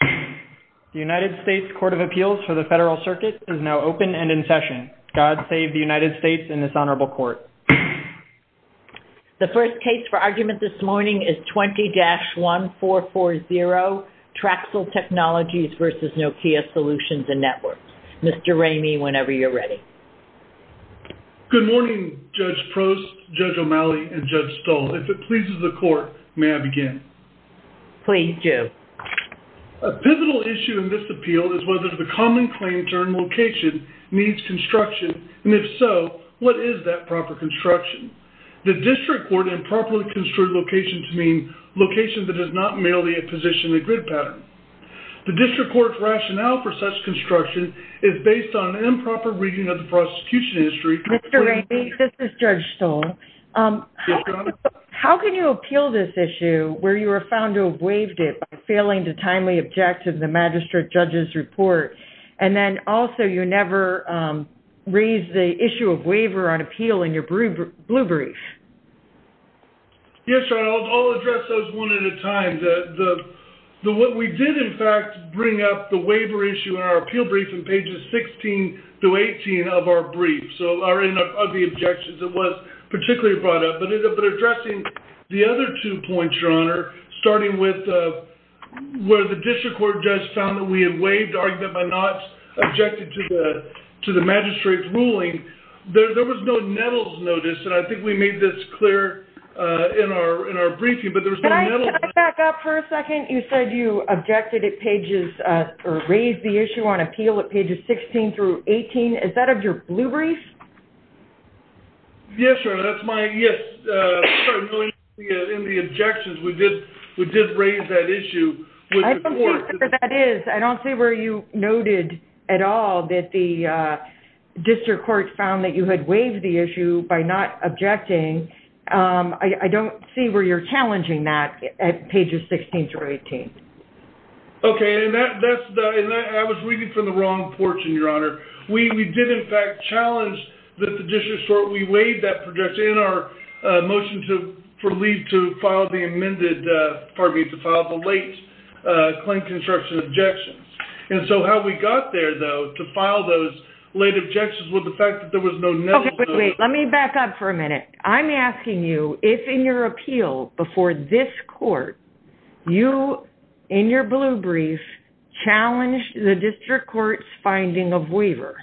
The United States Court of Appeals for the Federal Circuit is now open and in session. God save the United States and this honorable court. The first case for argument this morning is 20-1440, Traxcell Technologies v. Nokia Solutions and Networks. Mr. Ramey, whenever you're ready. Good morning, Judge Prost, Judge O'Malley, and Judge Stahl. If it pleases the court, may I begin? Please, do. A pivotal issue in this appeal is whether the common claim term location needs construction, and if so, what is that proper construction? The district court improperly construed location to mean location that does not merely position the grid pattern. The district court's rationale for such construction is based on improper reading of the prosecution history. Mr. Ramey, this is Judge Stahl. Yes, Your Honor. How can you appeal this issue where you were found to have waived it by failing to timely object to the magistrate judge's report, and then also you never raised the issue of waiver on appeal in your blue brief? Yes, Your Honor. I'll address those one at a time. What we did, in fact, bring up the waiver issue in our appeal brief in pages 16 through 18 of our brief, so our ugly objections. It was particularly brought up, but addressing the other two points, Your Honor, starting with where the district court judge found that we had waived argument by not objecting to the magistrate's ruling, there was no Nettles notice, and I think we made this clear in our briefing, but there was no Nettles. Can I back up for a second? You said you raised the issue on appeal at pages 16 through 18. Is that of your blue brief? Yes, Your Honor. That's my, yes. In the objections, we did raise that issue. I don't think that that is. I don't see where you noted at all that the district court found that you had waived the issue by not objecting. I don't see where you're challenging that at pages 16 through 18. Okay. I was reading from the wrong portion, Your Honor. We did, in fact, challenge that the district court, we waived that objection in our motion for leave to file the amended, pardon me, to file the late claim construction objections. How we got there, though, to file those late objections was the fact that there was no Nettles notice. Let me back up for a minute. I'm asking you if, in your appeal before this court, you, in your blue brief, challenged the district court's finding of waiver.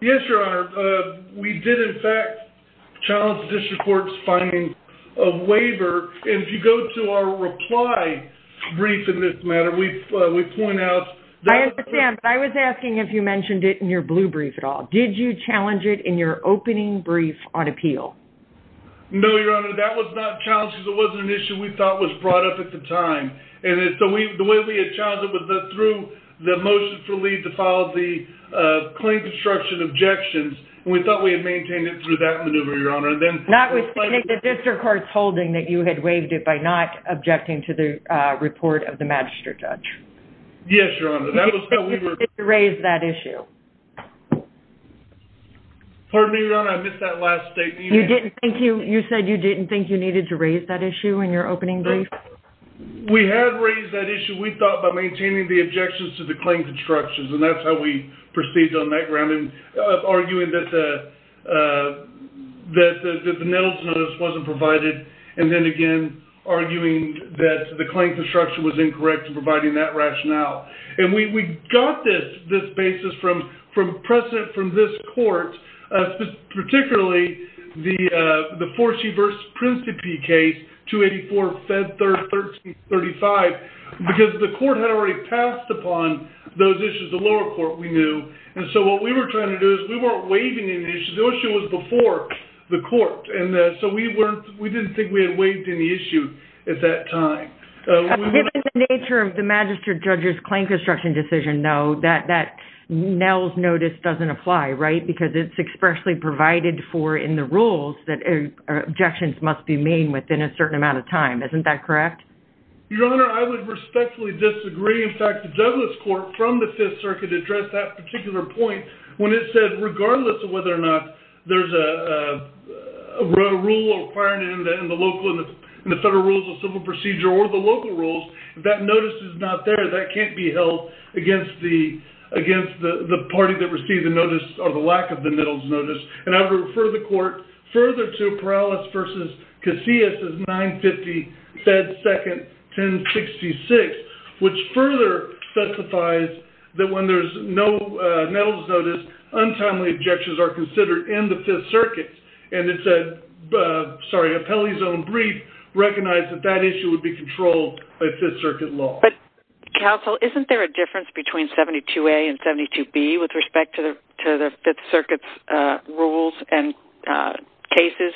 Yes, Your Honor. We did, in fact, challenge the district court's finding of waiver. If you go to our reply brief in this matter, we point out that- Did you challenge it in your opening brief on appeal? No, Your Honor. That was not challenged because it wasn't an issue we thought was brought up at the time. The way we had challenged it was through the motion for leave to file the claim construction objections. We thought we had maintained it through that maneuver, Your Honor. Notwithstanding the district court's holding that you had waived it by not objecting to the report of the magistrate judge. Yes, Your Honor. That was how we were- Raised that issue. Pardon me, Your Honor. I missed that last statement. You said you didn't think you needed to raise that issue in your opening brief? We had raised that issue, we thought, by maintaining the objections to the claim constructions. That's how we proceeded on that ground, arguing that the Nettles notice wasn't provided, and then, again, arguing that the claim construction was incorrect in providing that rationale. We got this basis from precedent from this court, particularly the Forsyth v. Principe case, 284, Fed 3rd, 1335, because the court had already passed upon those issues, the lower court, we knew. What we were trying to do is we weren't waiving any issues. The issue was before the court. We didn't think we had waived any issue at that time. Given the nature of the magistrate judge's claim construction decision, though, that Nettles notice doesn't apply, right? Because it's expressly provided for in the rules that objections must be made within a certain amount of time. Isn't that correct? Your Honor, I would respectfully disagree. In fact, the Douglas court from the Fifth Circuit addressed that particular point when it said, regardless of whether or not there's a local rule, if that notice is not there, that can't be held against the party that received the notice or the lack of the Nettles notice. I would refer the court further to Perales v. Casillas' 950, Fed 2nd, 1066, which further specifies that when there's no Nettles notice, untimely objections are considered in the Fifth Circuit. It's a penalty zone brief recognized that that issue would be controlled by Fifth Circuit law. Counsel, isn't there a difference between 72A and 72B with respect to the Fifth Circuit's rules and cases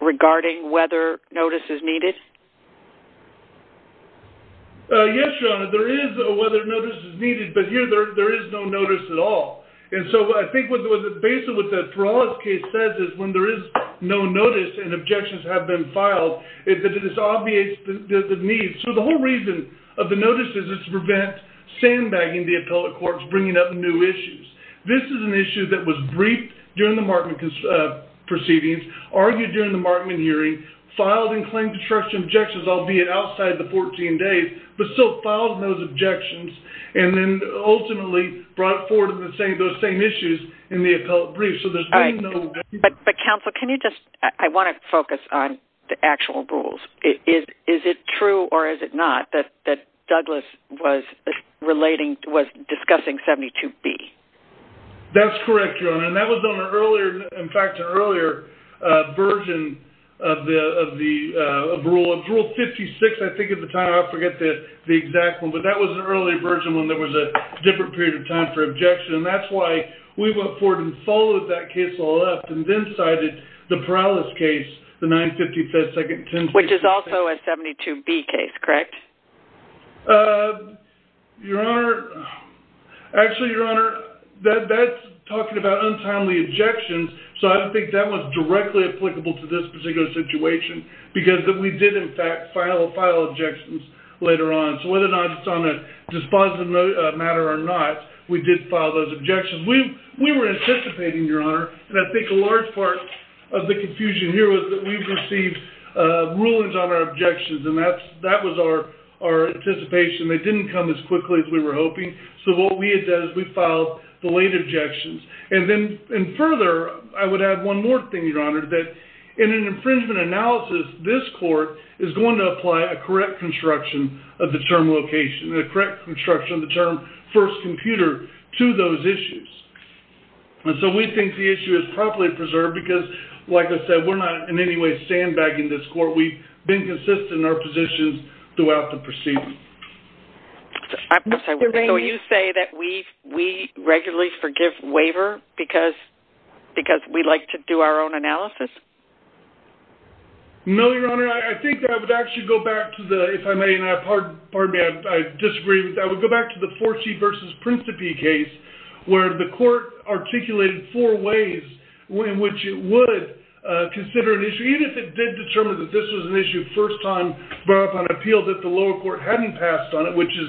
regarding whether notice is needed? Yes, Your Honor, there is a whether notice is needed, but here there is no notice at all. And so I think basically what the Perales case says is when there is no notice and objections have been filed, it disobviates the need. So the whole reason of the notice is to prevent sandbagging the appellate courts, bringing up new issues. This is an issue that was briefed during the Markman proceedings, argued during the Markman hearing, filed and claimed to trust objections, albeit outside the 14 days, but still filed those objections and then ultimately brought forward those same issues in the appellate brief. So there's been no... But Counsel, can you just, I want to focus on the actual rules. Is it true or is it not that Douglas was relating, was discussing 72B? That's correct, Your Honor. And that was on an earlier, in fact, an earlier version of the rule, of Rule 56, I think at the time, I forget the exact one, but that was an early version when there was a different period of time for objection. And that's why we went forward and followed that case all up and then cited the Prowlis case, the 9-55-10... Which is also a 72B case, correct? Your Honor, actually, Your Honor, that's talking about untimely objections. So I don't think that was directly applicable to this particular situation because we did, in fact, file objections later on. So whether or not it's on a dispositive matter or not, we did file those objections. We were anticipating, Your Honor, and I think a large part of the confusion here was that we received rulings on our objections, and that was our anticipation. They didn't come as quickly as we were hoping. So what we had done is we filed the late objections. And then further, I would add one more thing, Your Honor, that in an infringement analysis, this court is going to apply a correct construction of the term location and a correct construction of the term first computer to those issues. And so we think the issue is properly preserved because, like I said, we're not in any way sandbagging this court. We've been consistent in our positions throughout the proceedings. So you say that we regularly forgive waiver because we like to do our own analysis? No, Your Honor. I think that I would actually go back to the, if I may, and I disagree with that, I would go back to the Forty v. Principe case where the court articulated four ways in which it would consider an issue, even if it did determine that this was an issue first time brought up on appeal that the lower court hadn't passed on it, which is,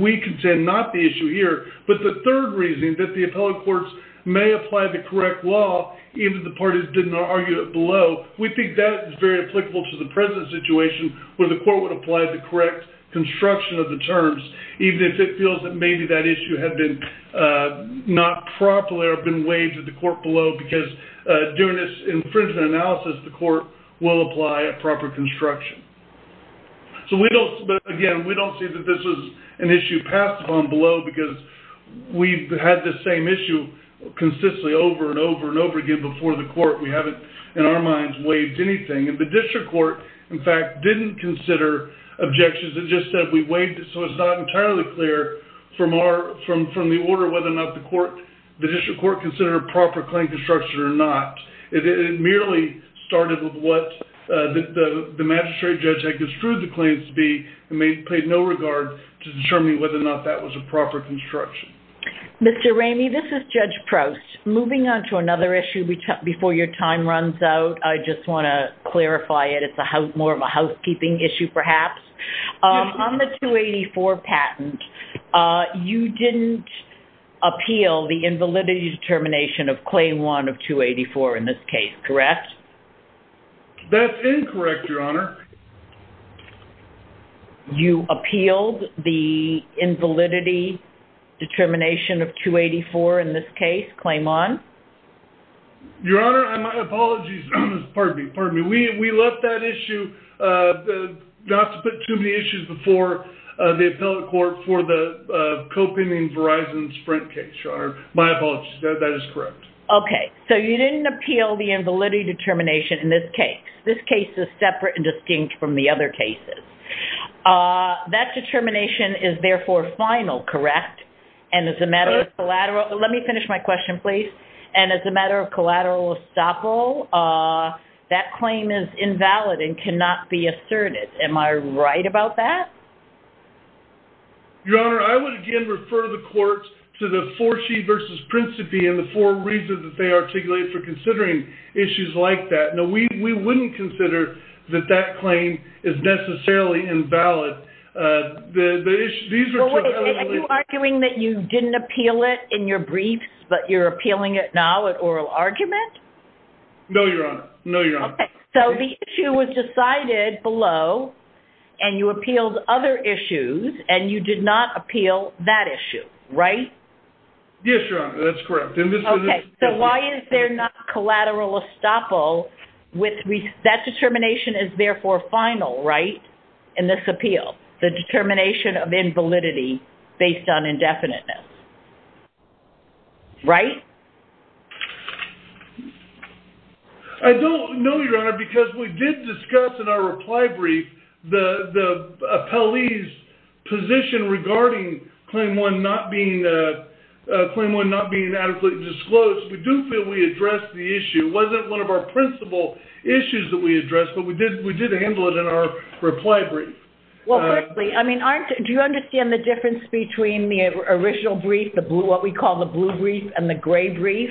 we contend, not the issue here. But the third reason that the appellate courts may apply the correct law, even if the parties didn't argue it below, we think that is very applicable to the present situation where the court would apply the correct construction of the terms, even if it feels that maybe that issue had been not properly or been waived at the court below because doing this infringement analysis, the court will apply a proper construction. But again, we don't see that this is an issue passed on below because we've had this same issue consistently over and over and over again before the court. We haven't, in our minds, waived anything. And the district court, in fact, didn't consider objections. It just said we waived it so it's not entirely clear from our, from the order whether or not the court, the district court, considered a proper claim construction or not. It merely started with what the magistrate judge had construed the claims to be and made, paid no regard to determining whether or not that was a proper construction. Mr. Ramey, this is Judge Proust. Moving on to another issue before your time runs out, I just want to clarify it. It's more of a housekeeping issue, perhaps. On the 284 patent, you didn't appeal the invalidity determination of Claim 1 of 284 in this case, correct? That's incorrect, Your Honor. You appealed the invalidity determination of 284 in this case, Claim 1? Your Honor, my apologies. Pardon me. Pardon me. We left that issue, not to put too many issues before the appellate court for the Copen and Verizon Sprint case, Your Honor. My apologies. That is correct. Okay. So you didn't appeal the invalidity determination in this case. This case is separate and distinct from the other cases. That determination is therefore final, correct? And as a matter of collateral, let me finish my question, please. And as a matter of collateral estoppel, that claim is invalid and cannot be asserted. Am I right about that? Your Honor, I would, again, refer the courts to the 4C versus Principe and the four reasons that they articulated for considering issues like that. No, we wouldn't consider that that claim is necessarily invalid. Are you arguing that you didn't appeal it in your briefs, but you're appealing it now at oral argument? No, Your Honor. No, Your Honor. Okay. So the issue was decided below and you appealed other issues and you did not appeal that issue, right? Yes, Your Honor. That's correct. Okay. So why is there not collateral estoppel with that determination is therefore final, right, in this appeal, the determination of invalidity based on indefiniteness, right? I don't know, Your Honor, because we did discuss in our reply brief the appellee's position regarding Claim 1 not being adequately disclosed. We do feel we addressed the issue. It wasn't one of our principal issues that we addressed, but we did handle it in our reply brief. Well, firstly, I mean, do you understand the difference between the original brief, the blue, what we call the blue brief and the gray brief,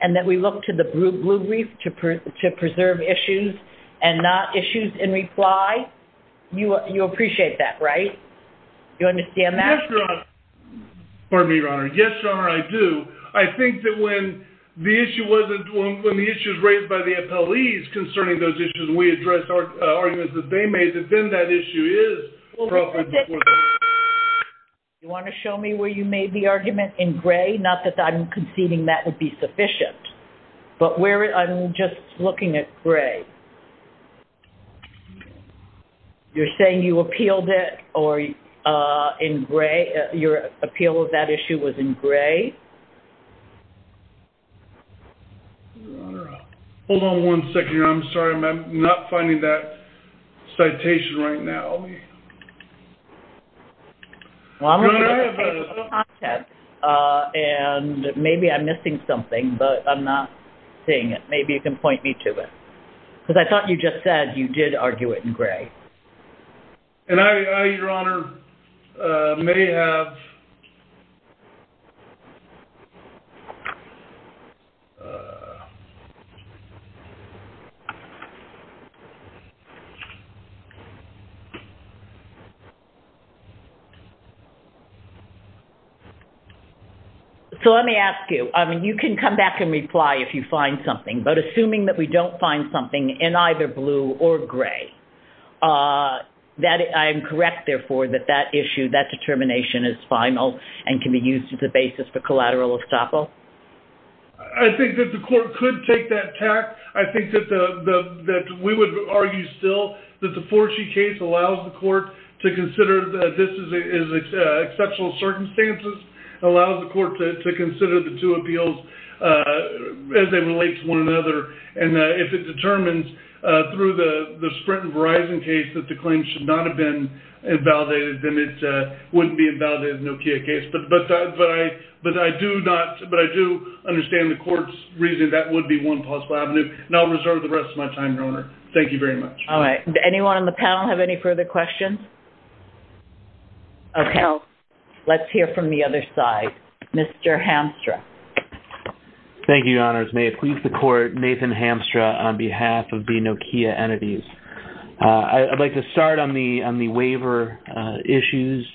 and that we look to the blue brief to preserve issues and not issues in reply? You appreciate that, right? Do you understand that? Yes, Your Honor. Pardon me, Your Honor. Yes, Your Honor, I do. I think that when the issue wasn't, when the issue was raised by the appellees concerning those issues, we addressed our arguments that they made, and then that issue is properly disclosed. You want to show me where you made the argument in gray? Not that I'm conceding that would be just looking at gray. You're saying you appealed it in gray? Your appeal of that issue was in gray? Hold on one second, Your Honor. I'm sorry. I'm not finding that citation right now. Well, maybe I'm missing something, but I'm not seeing it. Maybe you can point me to it. Because I thought you just said you did argue it in gray. And I, Your Honor, may have... So, let me ask you. I mean, you can come back and reply if you find something, but assuming that we don't find something in either blue or gray, that I'm correct, therefore, that that issue, that determination is final and can be used as a basis for collateral estoppel? I think that the court could take that tact. I think that we would argue still that the Forshee case allows the court to consider that this is exceptional circumstances, allows the court to consider the two appeals as they relate to one another. And if it determines through the Sprint and Verizon case that the claim should not have been invalidated, then it wouldn't be invalidated in the Nokia case. But I do understand the court's reasoning that would be one possible avenue. And I'll reserve the rest of my time, Your Honor. Thank you very much. All right. Anyone on the panel have any further questions? Okay. Let's hear from the other side. Mr. Hamstra. Thank you, Your Honors. May it please the court, Nathan Hamstra on behalf of the Nokia entities. I'd like to start on the waiver issues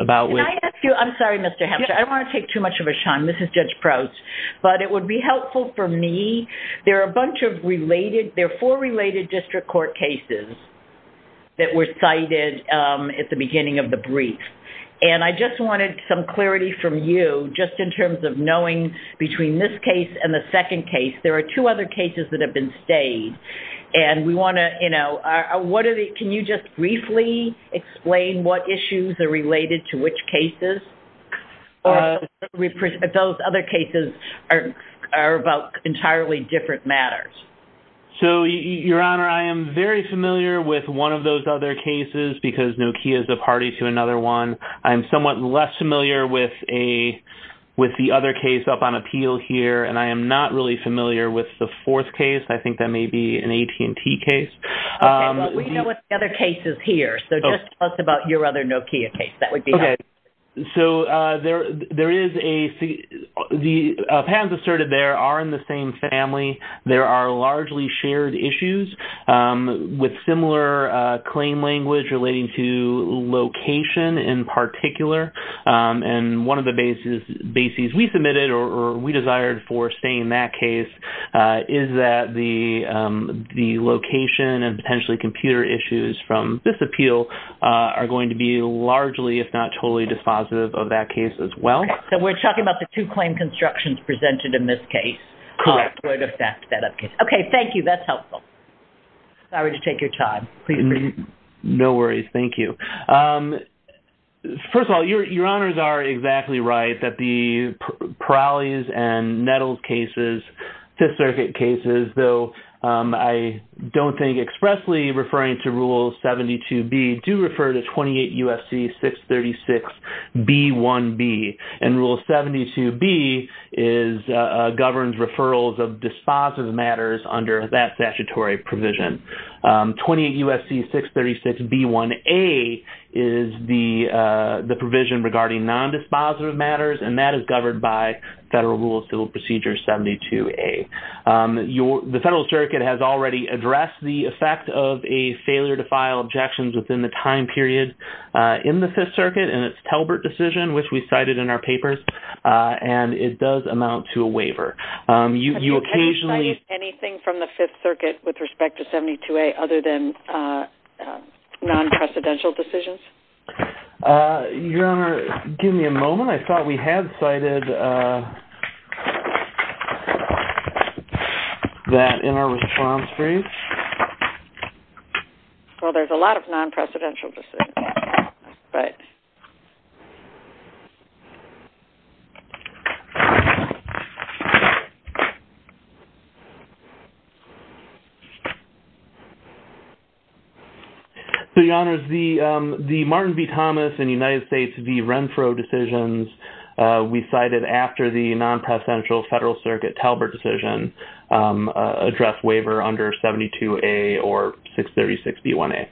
about which... I'm sorry, Mr. Hamstra. I don't want to take too much of his time. This is Judge Prouts. But it would be helpful for me. There are a bunch of related... There are four related district court cases that were cited at the beginning of the brief. And I just wanted some clarity from you just in terms of knowing between this case and the second case. There are two other cases that have been stayed. And we want to... Can you just briefly explain what issues are related to which cases? Those other cases are about entirely different matters. So, Your Honor, I am very familiar with one of those other cases because Nokia is a party to another one. I'm somewhat less familiar with the other case up on appeal here. And I am not really familiar with the fourth case. I think that may be an AT&T case. Okay. Well, we know what the other case is here. So just tell us about your other Nokia case. That would be helpful. Okay. So there is a... The patterns asserted there are in the same family. There are largely shared issues with similar claim language relating to location in particular. And one of the bases we submitted or we desired for staying in that case is that the location and potentially computer issues from this appeal are going to be largely if not totally dispositive of that case as well. So we're talking about the two claim constructions presented in this case? Correct. Would affect that case. Okay. Thank you. That's helpful. Sorry to take your time. No worries. Thank you. First of all, Your Honors are exactly right that the Prowley's and Nettles cases, Fifth Circuit cases, though I don't think expressly referring to Rule 72B, do refer to 28 U.S.C. 636B1B. And Rule 72B governs referrals of dispositive matters under that statutory provision. 28 U.S.C. 636B1A is the provision regarding non-dispositive matters, and that is governed by Federal Rule of Civil Procedure 72A. The Federal Circuit has already addressed the effect of a failure to file objections within the time period in the Fifth Circuit, and it's Talbert decision, which we cited in our papers, and it does amount to a waiver. You occasionally... Have you cited anything from the Fifth Circuit with respect to 72A other than non-precedential decisions? Your Honor, give me a moment. I thought we had cited that in our response brief. Well, there's a lot of non-precedential decisions. Right. So, Your Honors, the Martin v. Thomas and United States v. Renfro decisions, we cited after the non-precedential Federal Circuit Talbert decision address waiver under 72A or 636B1A.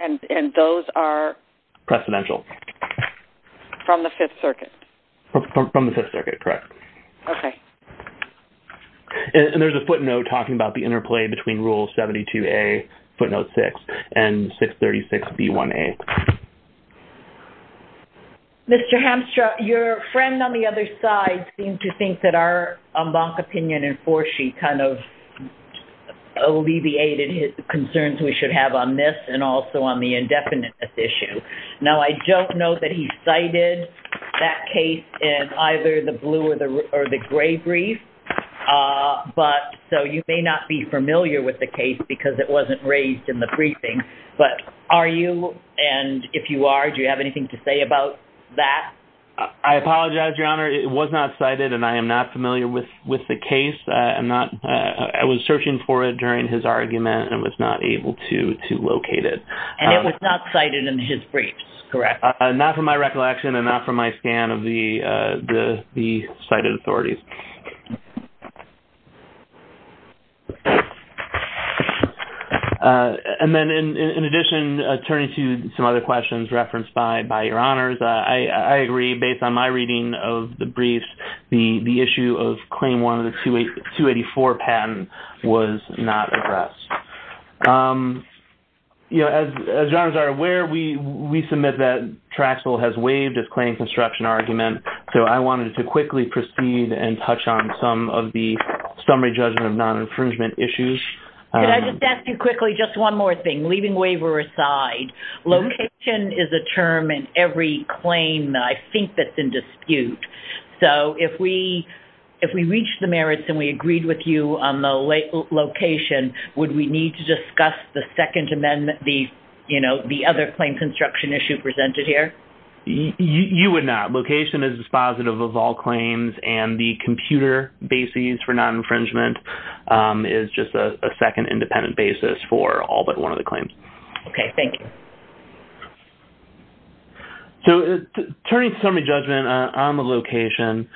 And those are... Precedential. From the Fifth Circuit. From the Fifth Circuit, correct. Okay. And there's a footnote talking about the interplay between Rule 72A, footnote 6, and 636B1A. Mr. Hamstra, your friend on the other side seemed to think that our concerns we should have on this and also on the indefiniteness issue. Now, I don't know that he cited that case in either the blue or the gray brief, so you may not be familiar with the case because it wasn't raised in the briefing. But are you, and if you are, do you have anything to say about that? I apologize, Your Honor. It was not cited and I am not familiar with the case. I'm not... I was searching for it during his argument and was not able to locate it. And it was not cited in his briefs, correct? Not from my recollection and not from my scan of the cited authorities. And then in addition, turning to some other questions referenced by Your Honors, I agree. Based on my reading of the briefs, the issue of Claim 1 of the 284 patent was not addressed. You know, as Your Honors are aware, we submit that Traxel has waived its claim construction argument, so I wanted to quickly proceed and touch on some of the summary judgment of non-infringement issues. Could I just ask you quickly just one more thing, leaving waiver aside. Location is a term in every claim that I think that's in dispute. So if we reach the merits and we agreed with you on the location, would we need to discuss the second amendment, the, you know, the other claim construction issue presented here? You would not. Location is dispositive of all claims and the computer basis for non-infringement is just a second independent basis for all but one of the claims. Okay, thank you. So turning to summary judgment on the location,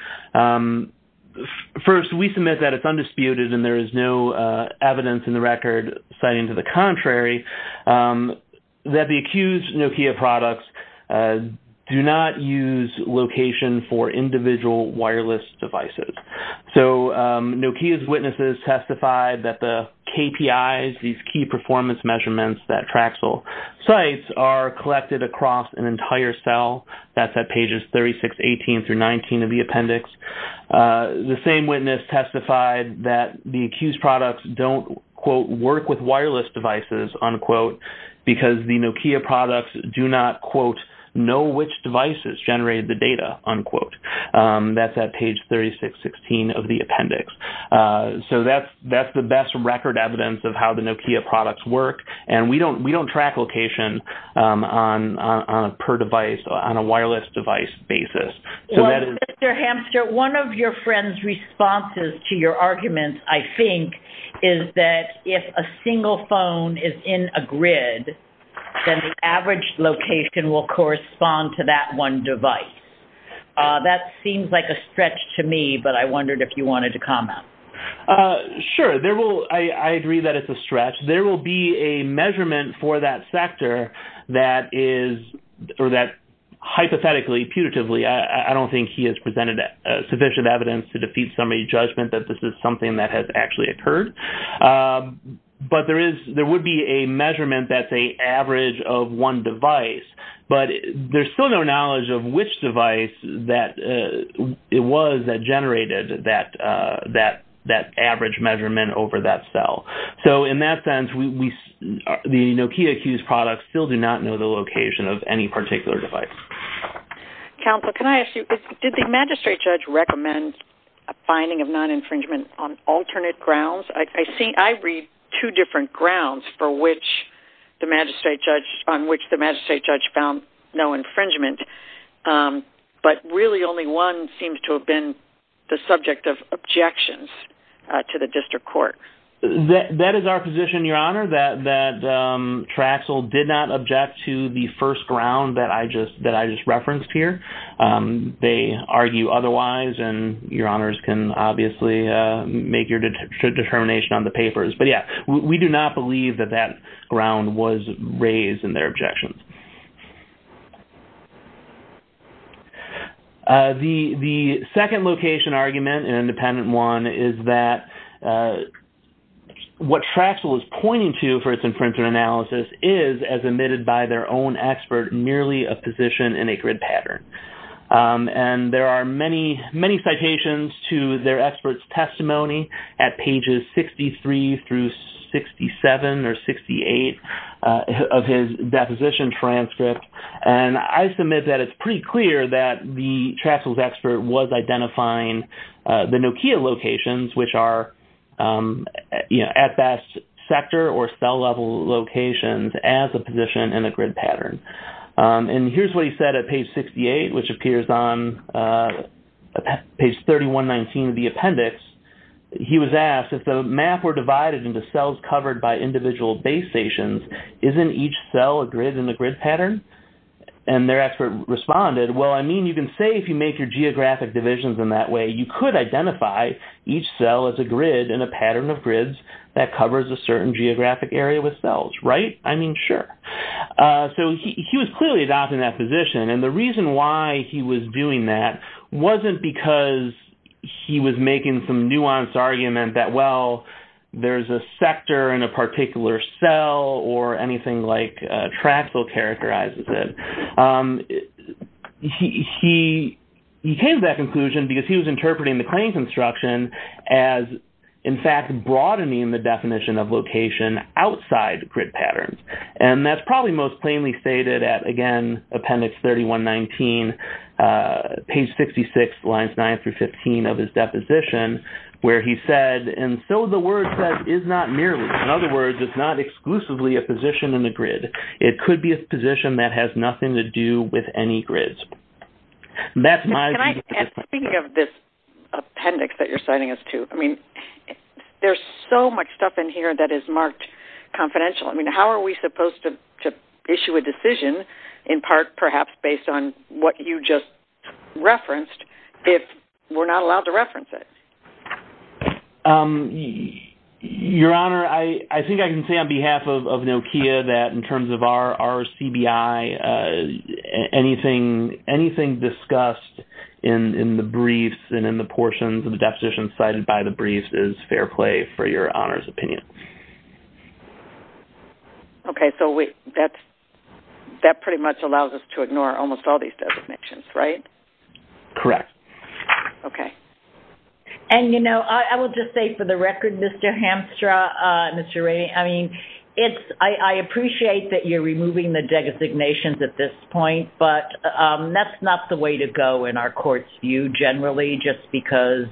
first, we submit that it's undisputed and there is no evidence in the record citing to the contrary that the accused Nokia products do not use location for individual wireless devices. So Nokia's witnesses testified that the KPIs, these key performance measurements that Traxel cites are collected across an entire cell. That's at pages 3618 through 39 of the appendix. The same witness testified that the accused products don't, quote, work with wireless devices, unquote, because the Nokia products do not, quote, know which devices generated the data, unquote. That's at page 3616 of the appendix. So that's the best record evidence of how the Nokia products work and we don't track location on a per device, on a wireless device basis. Well, Mr. Hamster, one of your friend's responses to your argument, I think, is that if a single phone is in a grid, then the average location will correspond to that one device. That seems like a stretch to me, but I wondered if you wanted to comment. Sure, I agree that it's a stretch. There will be a measurement for that sector that hypothetically, putatively, I don't think he has presented sufficient evidence to defeat somebody's judgment that this is something that has actually occurred. But there would be a measurement that's an average of one device, but there's still no knowledge of which device it was that generated that average measurement over that cell. So in that sense, the Nokia Q's products still do not know the location of any particular device. Counselor, can I ask you, did the magistrate judge recommend a finding of non-infringement on alternate grounds? I read two different grounds for which the magistrate judge, on which the magistrate found no infringement, but really only one seems to have been the subject of objections to the district court. That is our position, Your Honor, that Traxel did not object to the first ground that I just referenced here. They argue otherwise, and Your Honors can obviously make your determination on the papers. But yeah, we do not believe that that ground was raised in their objections. The second location argument, an independent one, is that what Traxel is pointing to for its infringement analysis is, as admitted by their own expert, merely a position in a grid pattern. And there are many, many citations to their expert's testimony at pages 63 through 67 or 68 of his deposition transcript, and I submit that it's pretty clear that the Traxel's expert was identifying the Nokia locations, which are, you know, at best sector or cell level locations, as a position in a grid pattern. And here's what he said at page 68, which appears on page 3119 of the appendix. He was asked, if the map were divided into cells covered by individual base stations, isn't each cell a grid in a grid pattern? And their expert responded, well, I mean, you can say if you make your geographic divisions in that way, you could identify each cell as a grid in a pattern of grids that covers a certain geographic area with cells, right? I mean, sure. So he was clearly adopting that position, and the reason why he was doing that wasn't because he was making some nuanced argument that, well, there's a sector in a particular cell or anything like Traxel characterizes it. He came to that conclusion because he was interpreting the claims instruction as, in fact, broadening the definition of location outside grid patterns, and that's probably most plainly stated at, again, appendix 3119, page 66, lines 9 through 15 of his deposition, where he said, and so the word said, is not merely. In other words, it's not exclusively a position in the grid. It could be a position that has nothing to do with any grids. And that's my view. And speaking of this appendix that you're citing us to, I mean, there's so much stuff in here that is marked confidential. How are we supposed to issue a decision, in part perhaps based on what you just referenced, if we're not allowed to reference it? Your Honor, I think I can say on behalf of Nokia that in terms of our RCBI, anything discussed in the briefs and in the portions of the deposition cited by the briefs is fair play for Your Honor's opinion. Okay, so that pretty much allows us to ignore almost all these designations, right? Correct. Okay. And, you know, I will just say for the record, Mr. Hamstra, Mr. Raney, I mean, I appreciate that you're removing the designations at this point, but that's not the way to go in our court's view generally, just because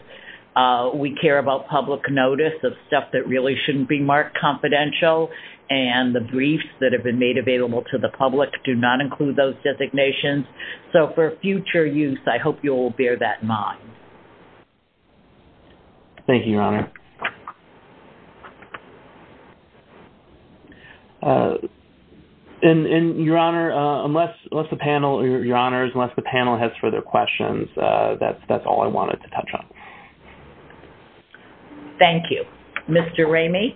we care about public notice of stuff that really shouldn't be marked confidential and the briefs that have been made available to the public do not include those designations. So for future use, I hope you'll bear that in mind. Thank you, Your Honor. And, Your Honor, unless the panel has further questions, that's all I wanted to touch on. Thank you. Mr. Raney?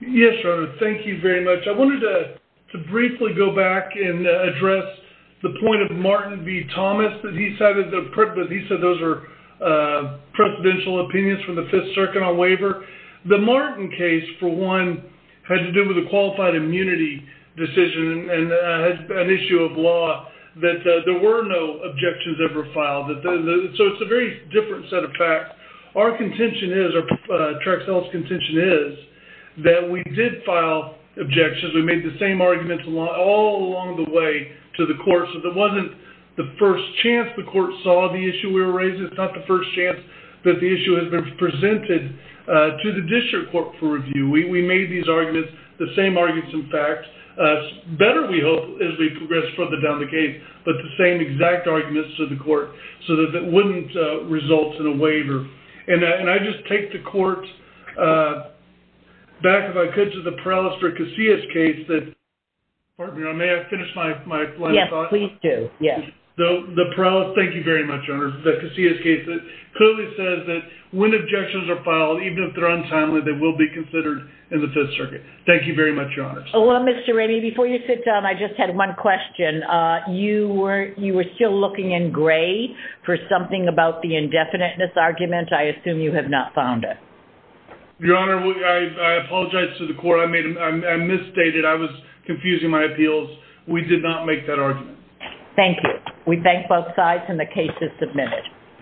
Yes, Your Honor, thank you very much. I wanted to briefly go back and address the point of Martin v. Thomas that he cited, but he said those were presidential opinions from the Fifth Circuit on waiver. The Martin case, for one, had to do with a qualified immunity decision and an issue of law that there were no objections ever filed. So it's a very different set of facts. Our contention is, or Traxell's contention is, that we did file objections. We made the same arguments all along the way to the court. So it wasn't the first chance the court saw the issue we were raising. It's not the first chance that the issue has been presented to the district court for review. We made these arguments, the same arguments and facts. Better, we hope, as we progress further down the case, but the same exact arguments to the court so that it wouldn't result in a waiver. And I just take the court back, if I could, to the Perales v. Casillas case that, pardon me, may I finish my line of thought? Yes, please do. Yes. The Perales, thank you very much, Your Honor, the Casillas case that clearly says that when objections are filed, even if they're untimely, they will be considered in the Fifth Circuit. Thank you very much, Your Honors. Well, Mr. Raney, before you sit down, I just had one question. You were still looking in gray for something about the indefiniteness argument. I assume you have not found it. Your Honor, I apologize to the court. I misstated. I was confusing my appeals. We did not make that argument. Thank you. We thank both sides, and the case is submitted.